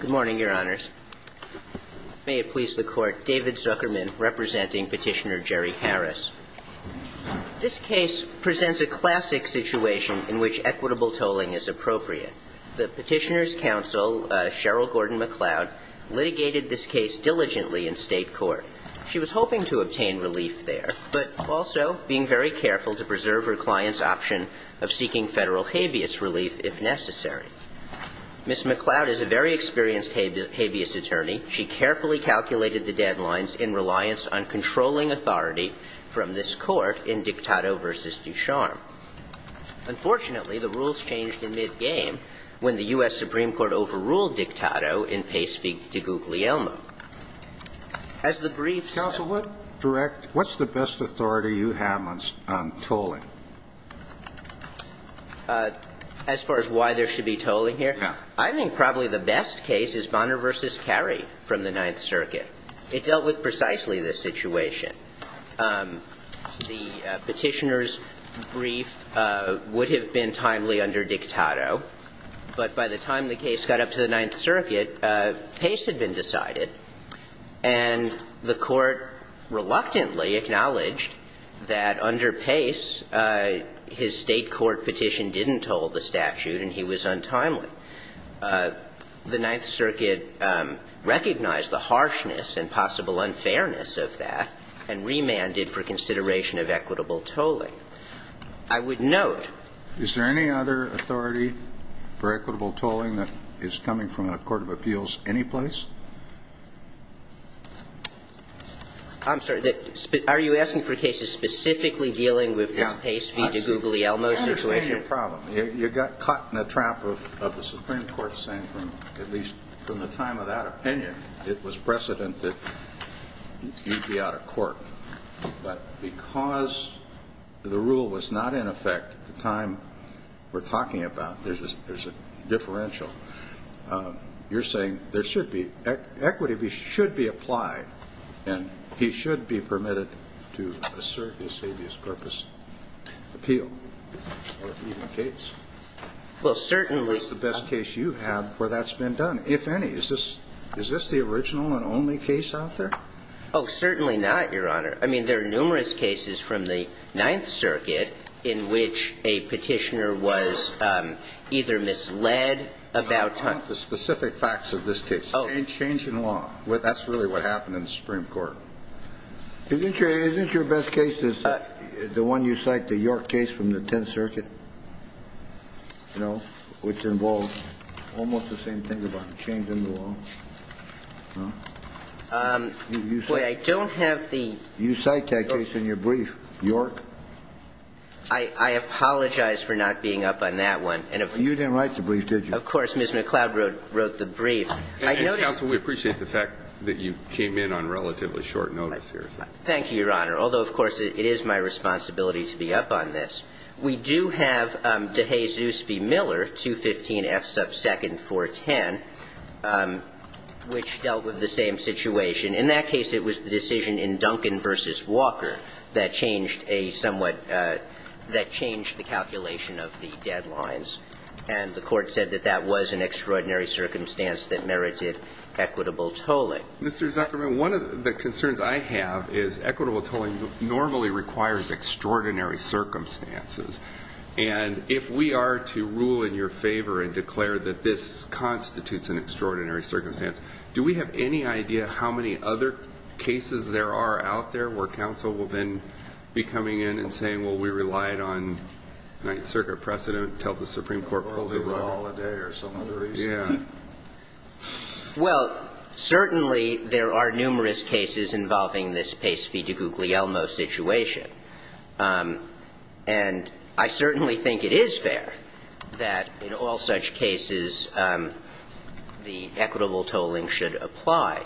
Good morning, Your Honors. May it please the Court, David Zuckerman, representing Petitioner Jerry Harris. This case presents a classic situation in which equitable tolling is appropriate. The Petitioner's counsel, Cheryl Gordon MacLeod, litigated this case diligently in State court. She was hoping to obtain relief there, but also being very careful to preserve her client's option of seeking Federal habeas relief if necessary. Ms. MacLeod is a very experienced habeas attorney. She carefully calculated the deadlines in reliance on controlling authority from this Court in Dictato v. Ducharme. Unfortunately, the rules changed in mid-game when the U.S. Supreme Court overruled Dictato in Pace v. DiGuglielmo. As the briefs said… What's the best authority you have on tolling? As far as why there should be tolling here? Yeah. I think probably the best case is Bonner v. Carey from the Ninth Circuit. It dealt with precisely this situation. The Petitioner's brief would have been timely under Dictato, but by the time the case got up to the Ninth Circuit, Pace had been decided. And the Court reluctantly acknowledged that under Pace, his State court petition didn't toll the statute, and he was untimely. The Ninth Circuit recognized the harshness and possible unfairness of that and remanded for consideration of equitable tolling. I would note… Is there any other authority for equitable tolling that is coming from a court of appeals anyplace? I'm sorry. Are you asking for cases specifically dealing with this Pace v. DiGuglielmo situation? Yeah. I understand your problem. You got caught in a trap of the Supreme Court saying from, at least from the time of that opinion, it was precedent that you'd be out of court. But because the rule was not in effect at the time we're talking about, there's a differential, you're saying there should be – equity should be applied and he should be permitted to assert his habeas corpus appeal or even case. Well, certainly… That's the best case you've had where that's been done, if any. Is this the original and only case out there? Oh, certainly not, Your Honor. I mean, there are numerous cases from the Ninth Circuit in which a petitioner was either misled about… I want the specific facts of this case, change in law. That's really what happened in the Supreme Court. Isn't your best case the one you cite, the York case from the Tenth Circuit, you know, which involved almost the same thing about the change in the law? I don't have the… You cite that case in your brief, York. I apologize for not being up on that one. You didn't write the brief, did you? Of course. Ms. McLeod wrote the brief. I noticed… Counsel, we appreciate the fact that you came in on relatively short notice here. Thank you, Your Honor. Although, of course, it is my responsibility to be up on this. We do have DeHaye-Zoos v. Miller, 215F sub 2nd, 410, which dealt with the same situation. In that case, it was the decision in Duncan v. Walker that changed a somewhat… that changed the calculation of the deadlines, and the Court said that that was an extraordinary circumstance that merited equitable tolling. Mr. Zuckerman, one of the concerns I have is equitable tolling normally requires extraordinary circumstances, and if we are to rule in your favor and declare that this constitutes an extraordinary circumstance, do we have any idea how many other cases there are out there where counsel will then be coming in and saying, well, we relied on the Ninth Circuit precedent to tell the Supreme Court what to do? Or the law of the day, or some other reason. Yeah. Well, certainly there are numerous cases involving this Pace v. DeGuglielmo situation, and I certainly think it is fair that in all such cases the equitable tolling should apply.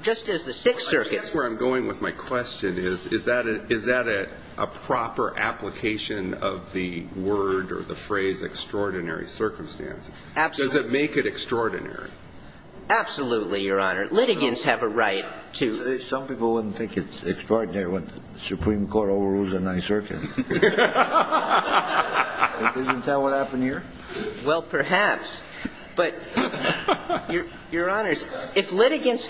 Just as the Sixth Circuit… Well, I guess where I'm going with my question is, is that a proper application of the word or the phrase extraordinary circumstance? Absolutely. Does it make it extraordinary? Absolutely, Your Honor. Litigants have a right to… Some people wouldn't think it's extraordinary when the Supreme Court overrules the Ninth Circuit. Doesn't that what happened here? Well, perhaps. But, Your Honors, if litigants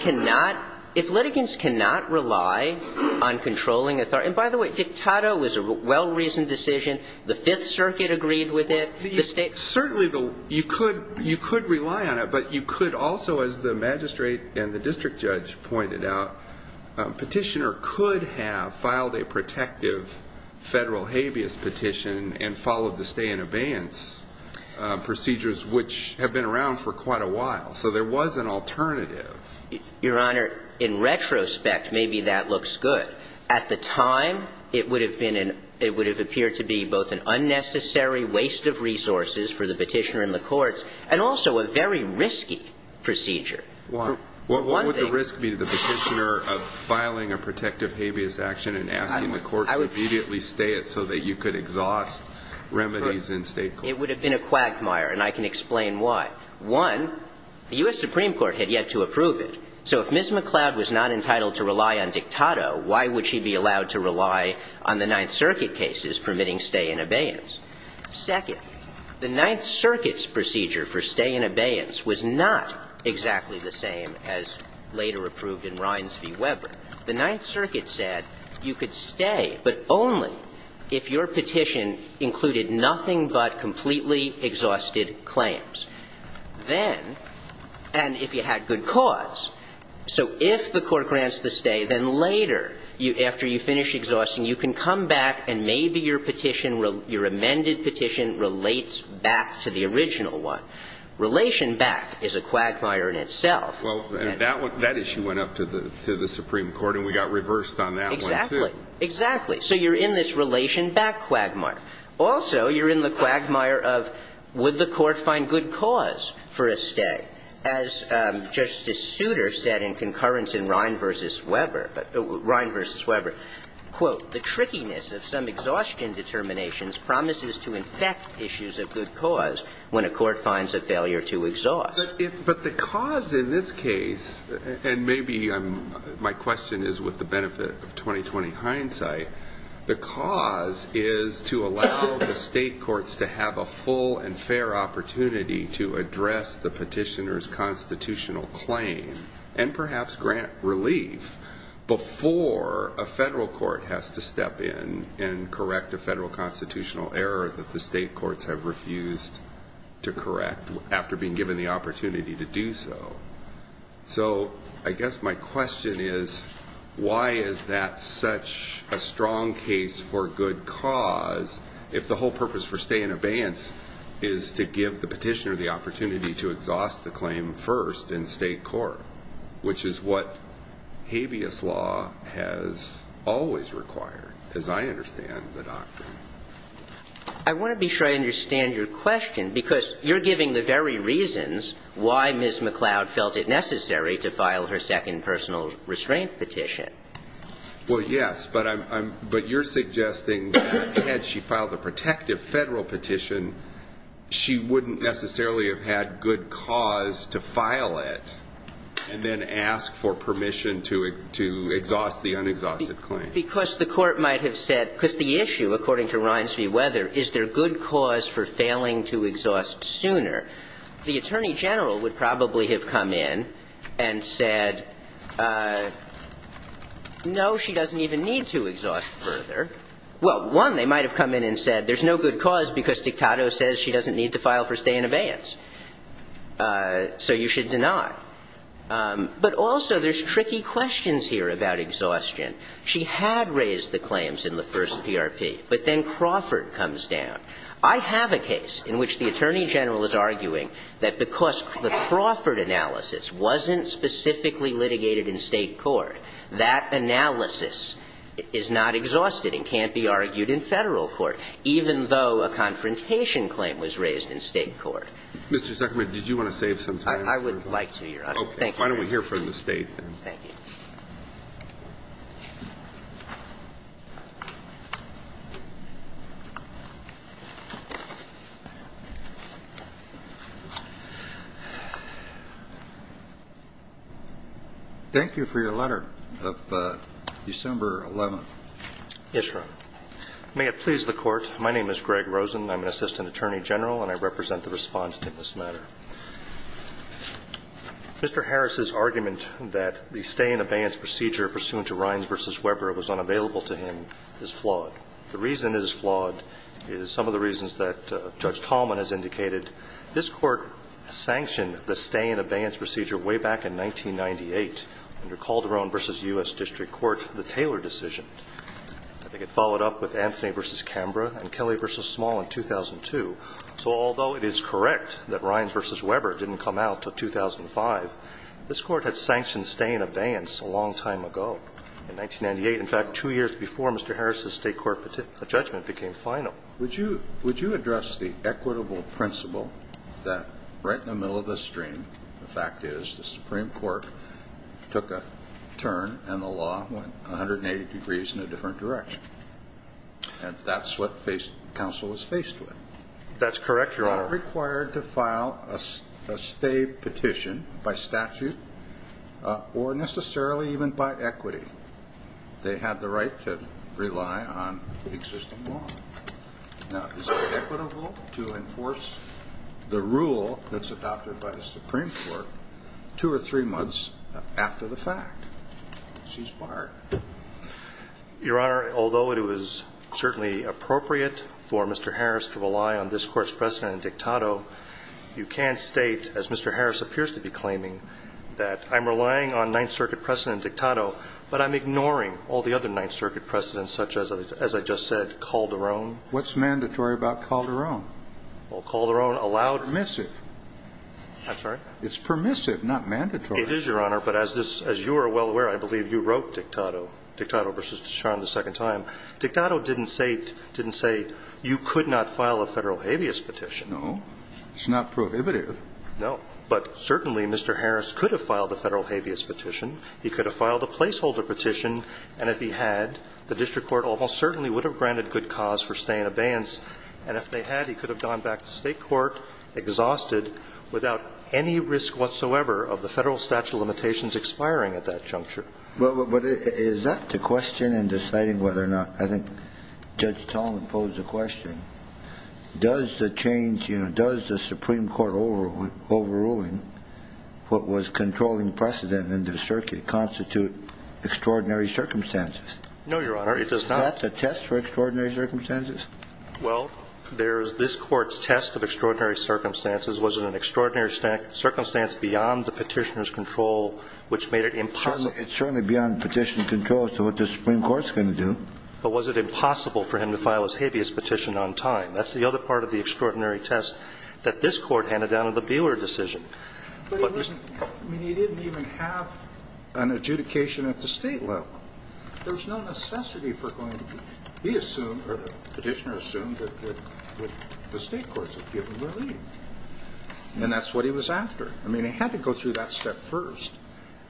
cannot rely on controlling authority – and by the way, Dictato was a well-reasoned decision. The Fifth Circuit agreed with it. The State… Certainly, you could rely on it, but you could also, as the magistrate and the district judge pointed out, Petitioner could have filed a protective Federal habeas petition and followed the stay and abeyance procedures, which have been around for quite a while. So there was an alternative. Your Honor, in retrospect, maybe that looks good. At the time, it would have been an – it would have appeared to be both an unnecessary waste of resources for the Petitioner and the courts, and also a very risky procedure. Why? For one thing… What would the risk be to the Petitioner of filing a protective habeas action and asking the court to immediately stay it so that you could exhaust remedies in State court? It would have been a quagmire, and I can explain why. One, the U.S. Supreme Court had yet to approve it. So if Ms. McCloud was not entitled to rely on Dictato, why would she be allowed to rely on the Ninth Circuit cases permitting stay and abeyance? Second, the Ninth Circuit's procedure for stay and abeyance was not exactly the same as later approved in Rines v. Weber. The Ninth Circuit said you could stay, but only if your petition included nothing but completely exhausted claims. Then – and if you had good cause. So if the court grants the stay, then later, after you finish exhausting, you can come back and maybe your petition – your amended petition relates back to the original one. Relation back is a quagmire in itself. Well, that issue went up to the Supreme Court, and we got reversed on that one, too. Exactly. Exactly. So you're in this relation back quagmire. Also, you're in the quagmire of would the court find good cause for a stay? As Justice Souter said in concurrence in Rines v. Weber, quote, the trickiness of some exhaustion determinations promises to infect issues of good cause when a court finds a failure to exhaust. But the cause in this case – and maybe my question is with the benefit of 2020 hindsight – the cause is to allow the state courts to have a full and fair opportunity to address the petitioner's constitutional claim and perhaps grant relief before a federal court has to step in and correct a federal constitutional error that the state courts have refused to correct after being given the opportunity to do so. So I guess my question is, why is that such a strong case for good cause if the whole purpose for stay in abeyance is to give the petitioner the opportunity to exhaust the claim first in state court, which is what habeas law has always required, as I understand the doctrine? I want to be sure I understand your question, because you're giving the very reasons why Ms. McCloud felt it necessary to file her second personal restraint petition. Well, yes, but I'm – but you're suggesting that had she filed a protective federal petition, she wouldn't necessarily have had good cause to file it and then ask for permission to exhaust the unexhausted claim. Because the court might have said – because the issue, according to Rines v. Weather, is there good cause for failing to exhaust sooner. The attorney general would probably have come in and said, no, she doesn't even need to exhaust further. Well, one, they might have come in and said, there's no good cause because dictato says she doesn't need to file for stay in abeyance. So you should deny. But also, there's tricky questions here about exhaustion. She had raised the claims in the first PRP, but then Crawford comes down. I have a case in which the attorney general is arguing that because the Crawford analysis wasn't specifically litigated in State court, that analysis is not exhausted and can't be argued in Federal court, even though a confrontation claim was raised in State court. Mr. Zuckerman, did you want to save some time? I would like to, Your Honor. Thank you. Okay. Why don't we hear from the State then? Thank you. Thank you for your letter of December 11th. Yes, Your Honor. May it please the Court. My name is Greg Rosen. I'm an assistant attorney general, and I represent the respondent in this matter. Mr. Harris's argument that the stay in abeyance procedure pursuant to Rynes v. Weber was unavailable to him is flawed. The reason it is flawed is some of the reasons that Judge Talman has indicated. This Court sanctioned the stay in abeyance procedure way back in 1998 under Calderon v. U.S. District Court, the Taylor decision. I think it followed up with Anthony v. Canberra and Kelly v. Small in 2002. So although it is correct that Rynes v. Weber didn't come out until 2005, this Court had sanctioned stay in abeyance a long time ago, in 1998. In fact, two years before Mr. Harris's State court judgment became final. Would you address the equitable principle that right in the middle of the stream, the fact is the Supreme Court took a turn and the law went 180 degrees in a different direction, and that's what counsel was faced with. That's correct, Your Honor. They're not required to file a stay petition by statute or necessarily even by equity. They have the right to rely on existing law. Now, is it equitable to enforce the rule that's adopted by the Supreme Court two or three months after the fact? She's fired. Your Honor, although it was certainly appropriate for Mr. Harris to rely on this Court's precedent in Dictato, you can't state, as Mr. Harris appears to be claiming, that I'm relying on Ninth Circuit precedent in Dictato, but I'm ignoring all the other Ninth Circuit precedents, such as I just said, Calderon. What's mandatory about Calderon? Well, Calderon allowed her. Permissive. I'm sorry? It's permissive, not mandatory. It is, Your Honor. But as this – as you are well aware, I believe you wrote Dictato, Dictato v. Descharnes the second time. Dictato didn't say – didn't say you could not file a Federal habeas petition. No. It's not prohibitive. No. But certainly, Mr. Harris could have filed a Federal habeas petition. He could have filed a placeholder petition, and if he had, the district court almost certainly would have granted good cause for stay and abeyance. And if they had, he could have gone back to State court, exhausted, without any risk whatsoever of the Federal statute of limitations expiring at that juncture. Well, but is that the question in deciding whether or not – I think Judge Tallman posed the question. Does the change – does the Supreme Court overruling what was controlling precedent in the circuit constitute extraordinary circumstances? No, Your Honor. It does not. Is that the test for extraordinary circumstances? Well, there's – this Court's test of extraordinary circumstances wasn't an extraordinary circumstance beyond the Petitioner's control, which made it impossible. It's certainly beyond Petitioner's control as to what the Supreme Court's going to do. But was it impossible for him to file his habeas petition on time? That's the other part of the extraordinary test that this Court handed down in the Buehler decision. But it wasn't – I mean, he didn't even have an adjudication at the State level. There was no necessity for going – he assumed – or the Petitioner assumed that the State courts would give him relief. And that's what he was after. I mean, he had to go through that step first.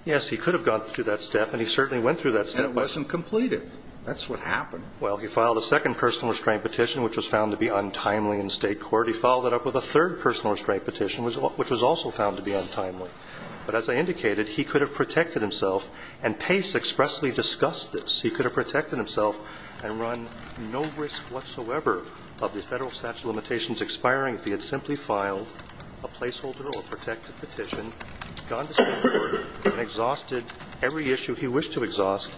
Yes, he could have gone through that step, and he certainly went through that step. And it wasn't completed. That's what happened. Well, he filed a second personal restraint petition, which was found to be untimely in State court. He followed that up with a third personal restraint petition, which was also found to be untimely. But as I indicated, he could have protected himself, and Pace expressly discussed this. He could have protected himself and run no risk whatsoever of the Federal statute expiring if he had simply filed a placeholder or protected petition, gone to State court, and exhausted every issue he wished to exhaust.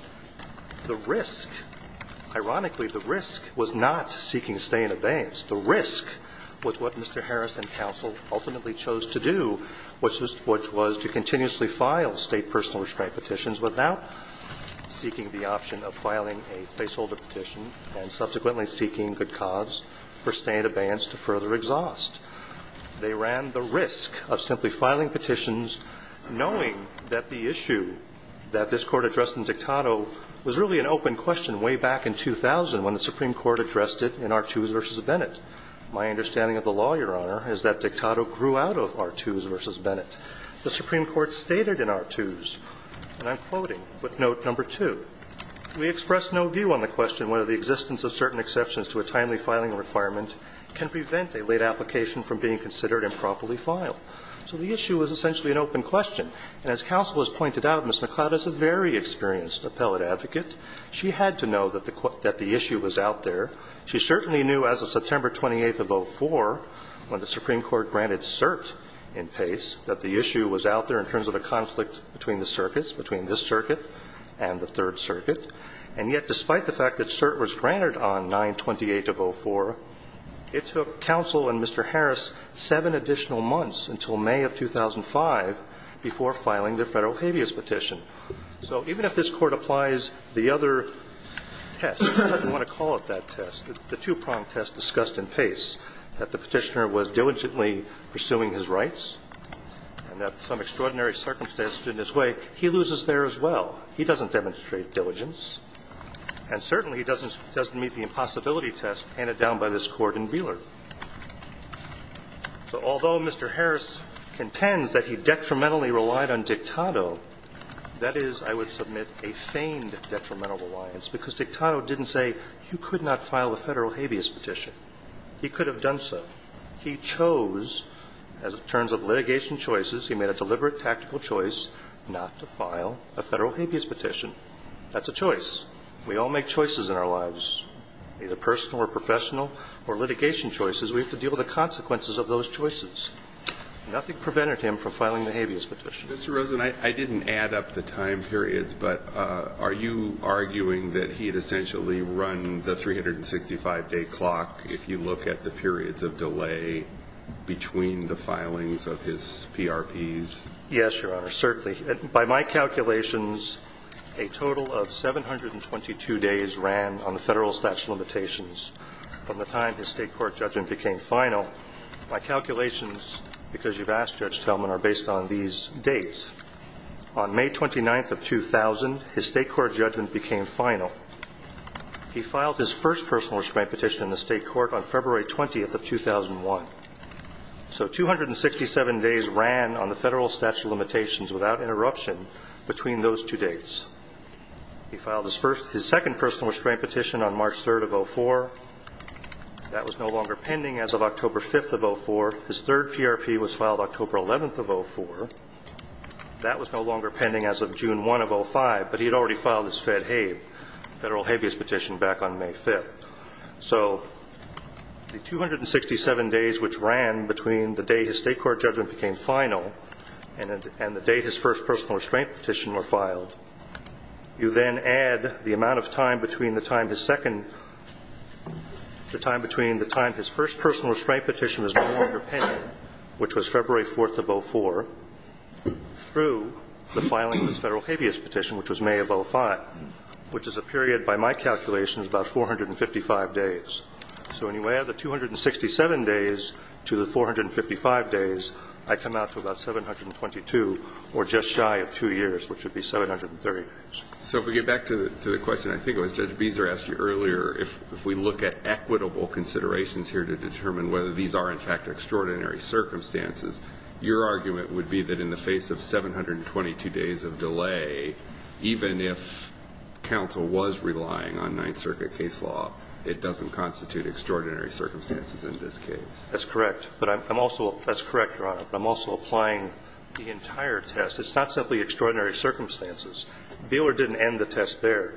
The risk – ironically, the risk was not seeking stay in abeyance. The risk was what Mr. Harris and counsel ultimately chose to do, which was to continuously file State personal restraint petitions without seeking the option of filing a placeholder petition and subsequently seeking good cause for stay in abeyance to further exhaust. They ran the risk of simply filing petitions knowing that the issue that this Court addressed in Dictato was really an open question way back in 2000 when the Supreme Court addressed it in Artoos v. Bennett. My understanding of the law, Your Honor, is that Dictato grew out of Artoos v. Bennett. The Supreme Court stated in Artoos, and I'm quoting with note number two, We express no view on the question whether the existence of certain exceptions to a timely filing requirement can prevent a late application from being considered and properly filed. So the issue was essentially an open question. And as counsel has pointed out, Ms. McCloud is a very experienced appellate advocate. She had to know that the issue was out there. She certainly knew as of September 28th of 2004, when the Supreme Court granted cert in Pace, that the issue was out there in terms of a conflict between the circuits, between this circuit and the Third Circuit. And yet, despite the fact that cert was granted on 928 of 04, it took counsel and Mr. Harris seven additional months until May of 2005 before filing the Federal habeas petition. So even if this Court applies the other test, I don't want to call it that test, the two-prong test discussed in Pace, that the Petitioner was diligently pursuing his rights, and that some extraordinary circumstance stood in his way, he loses there as well. He doesn't demonstrate diligence, and certainly he doesn't meet the impossibility test handed down by this Court in Wheeler. So although Mr. Harris contends that he detrimentally relied on Dictato, that is, I would submit, a feigned detrimental reliance, because Dictato didn't say, you could not file the Federal habeas petition. He could have done so. He chose, as it turns of litigation choices, he made a deliberate tactical choice not to file a Federal habeas petition. That's a choice. We all make choices in our lives, either personal or professional, or litigation choices. We have to deal with the consequences of those choices. Nothing prevented him from filing the habeas petition. Mr. Rosen, I didn't add up the time periods, but are you arguing that he had essentially run the 365-day clock, if you look at the periods of delay between the filings of his PRPs? Yes, Your Honor, certainly. By my calculations, a total of 722 days ran on the Federal statute of limitations from the time his state court judgment became final. My calculations, because you've asked, Judge Tillman, are based on these dates. On May 29th of 2000, his state court judgment became final. He filed his first personal restraint petition in the state court on February 20th of 2001. So 267 days ran on the Federal statute of limitations without interruption between those two dates. He filed his second personal restraint petition on March 3rd of 2004. That was no longer pending as of October 5th of 2004. His third PRP was filed October 11th of 2004. That was no longer pending as of June 1st of 2005, but he had already filed his federal habeas petition back on May 5th. So the 267 days which ran between the day his state court judgment became final and the day his first personal restraint petition were filed, you then add the amount of time between the time his second, the time between the time his first personal restraint petition was no longer pending, which was February 4th of 2004, through the filing of his federal habeas petition, which was May of 2005, which is a period, by my calculations, about 455 days. So when you add the 267 days to the 455 days, I come out to about 722, or just shy of two years, which would be 730 days. So if we get back to the question, I think it was Judge Beezer asked you earlier, if we look at equitable considerations here to determine whether these are, in fact, extraordinary circumstances, your argument would be that in the face of 722 days of delay, even if counsel was relying on Ninth Circuit case law, it doesn't constitute extraordinary circumstances in this case. That's correct. But I'm also – that's correct, Your Honor. But I'm also applying the entire test. It's not simply extraordinary circumstances. Beeler didn't end the test there,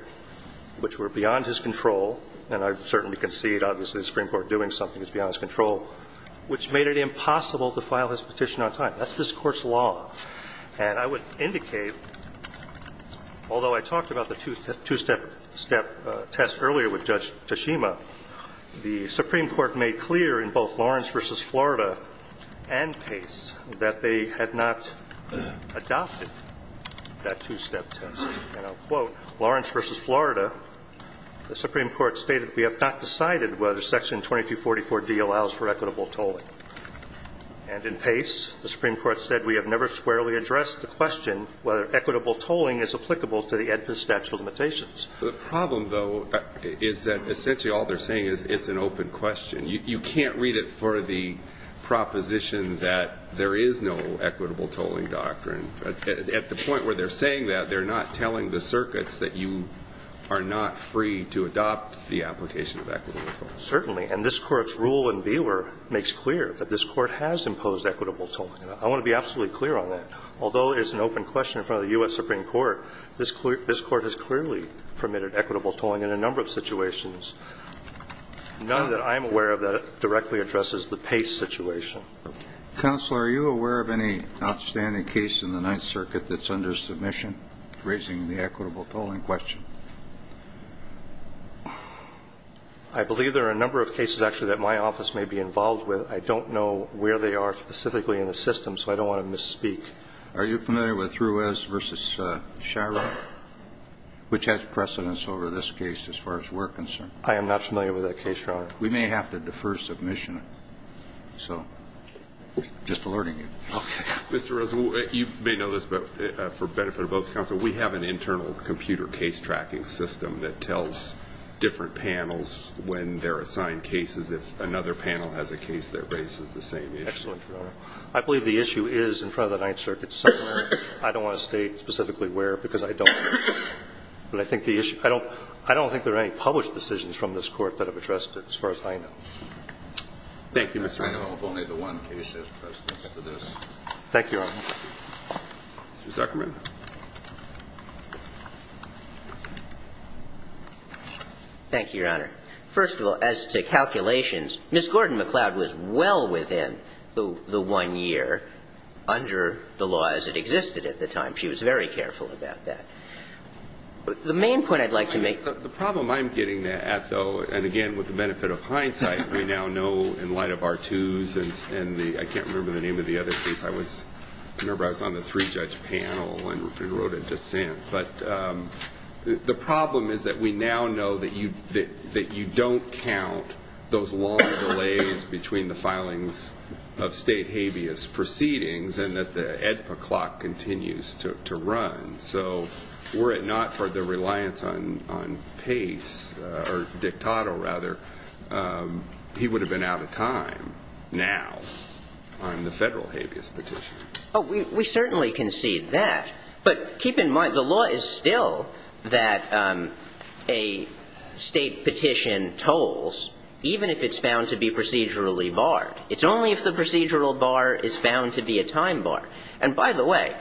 which were beyond his control, and I certainly concede, obviously, the Supreme Court doing something that's beyond his control, which made it impossible to file his petition on time. That's this Court's law. And I would indicate, although I talked about the two-step test earlier with Judge Tashima, the Supreme Court made clear in both Lawrence v. Florida and Pace that they had not adopted that two-step test. And I'll quote, Lawrence v. Florida, the Supreme Court stated, We have not decided whether Section 2244D allows for equitable tolling. And in Pace, the Supreme Court said, We have never squarely addressed the question whether equitable tolling is applicable to the Edpis statute of limitations. The problem, though, is that essentially all they're saying is it's an open question. You can't read it for the proposition that there is no equitable tolling doctrine. At the point where they're saying that, they're not telling the circuits that you are not free to adopt the application of equitable tolling. Certainly. And this Court's rule in Beeler makes clear that this Court has imposed equitable tolling. I want to be absolutely clear on that. Although it's an open question in front of the U.S. Supreme Court, this Court has clearly permitted equitable tolling in a number of situations. None that I'm aware of that directly addresses the Pace situation. Counsel, are you aware of any outstanding case in the Ninth Circuit that's under submission raising the equitable tolling question? I believe there are a number of cases, actually, that my office may be involved with. I don't know where they are specifically in the system, so I don't want to misspeak. Are you familiar with Ruiz v. Sharrock, which has precedence over this case as far as we're concerned? I am not familiar with that case, Your Honor. We may have to defer submission. So, just alerting you. Okay. Mr. Rosen, you may know this, but for benefit of both counsel, we have an internal computer case tracking system that tells different panels when they're assigned cases, if another panel has a case that raises the same issue. Excellent, Your Honor. I believe the issue is in front of the Ninth Circuit somewhere. I don't want to state specifically where, because I don't. But I think the issue – I don't think there are any published decisions from this Court that have addressed it as far as I know. Thank you, Mr. Rosen. I know of only the one case that has precedence to this. Thank you, Your Honor. Mr. Zuckerman. Thank you, Your Honor. First of all, as to calculations, Ms. Gordon-McLeod was well within the one year under the law as it existed at the time. She was very careful about that. The main point I'd like to make – The problem I'm getting at, though, and again, with the benefit of hindsight, we now know in light of R2s and the – I can't remember the name of the other case. I was – I remember I was on the three-judge panel and wrote a dissent. But the problem is that we now know that you don't count those long delays between the filings of state habeas proceedings and that the EDPA clock continues to run. So were it not for the reliance on pace – or dictator, rather, he would have been out of time now on the federal habeas petition. Oh, we certainly can see that. But keep in mind, the law is still that a state petition tolls, even if it's found to be procedurally barred. It's only if the procedural bar is found to be a time bar. And by the way,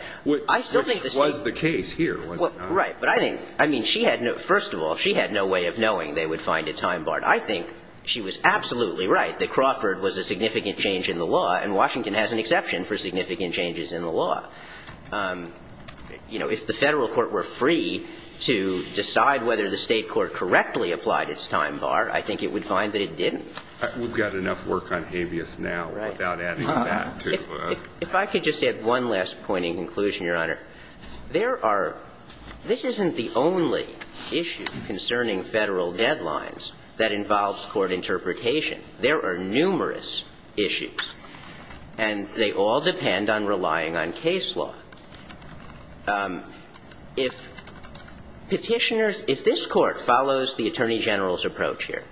I still think the State – Which was the case here, was it not? Right. But I think – I mean, she had no – first of all, she had no way of knowing they would find it time barred. I think she was absolutely right that Crawford was a significant change in the law, and Washington has an exception for significant changes in the law. You know, if the Federal court were free to decide whether the State court correctly applied its time bar, I think it would find that it didn't. We've got enough work on habeas now without adding to that. If I could just add one last point in conclusion, Your Honor. There are – this isn't the only issue concerning Federal deadlines that involves court interpretation. There are numerous issues, and they all depend on relying on case law. If Petitioners – if this Court follows the Attorney General's approach here,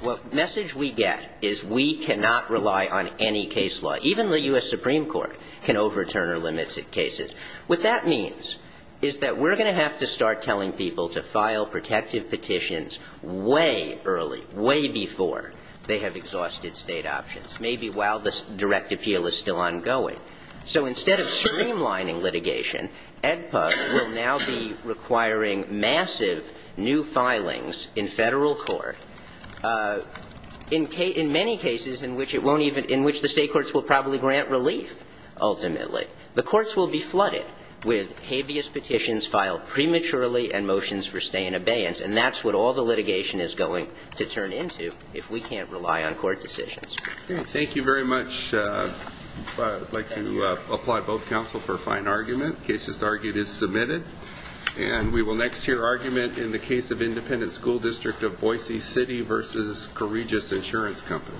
what message we get is we cannot rely on any case law. Even the U.S. Supreme Court can overturn or limit cases. What that means is that we're going to have to start telling people to file protective petitions way early, way before they have exhausted State options, maybe while the direct appeal is still ongoing. So instead of streamlining litigation, AEDPA will now be requiring massive new filings in Federal court in many cases in which it won't even – in which the State courts will probably grant relief ultimately. The courts will be flooded with habeas petitions filed prematurely and motions for stay and abeyance. And that's what all the litigation is going to turn into if we can't rely on court decisions. Thank you very much. I'd like to apply both counsel for a fine argument. The case just argued is submitted. And we will next hear argument in the case of Independent School District of Boise City v. Courageous Insurance Company.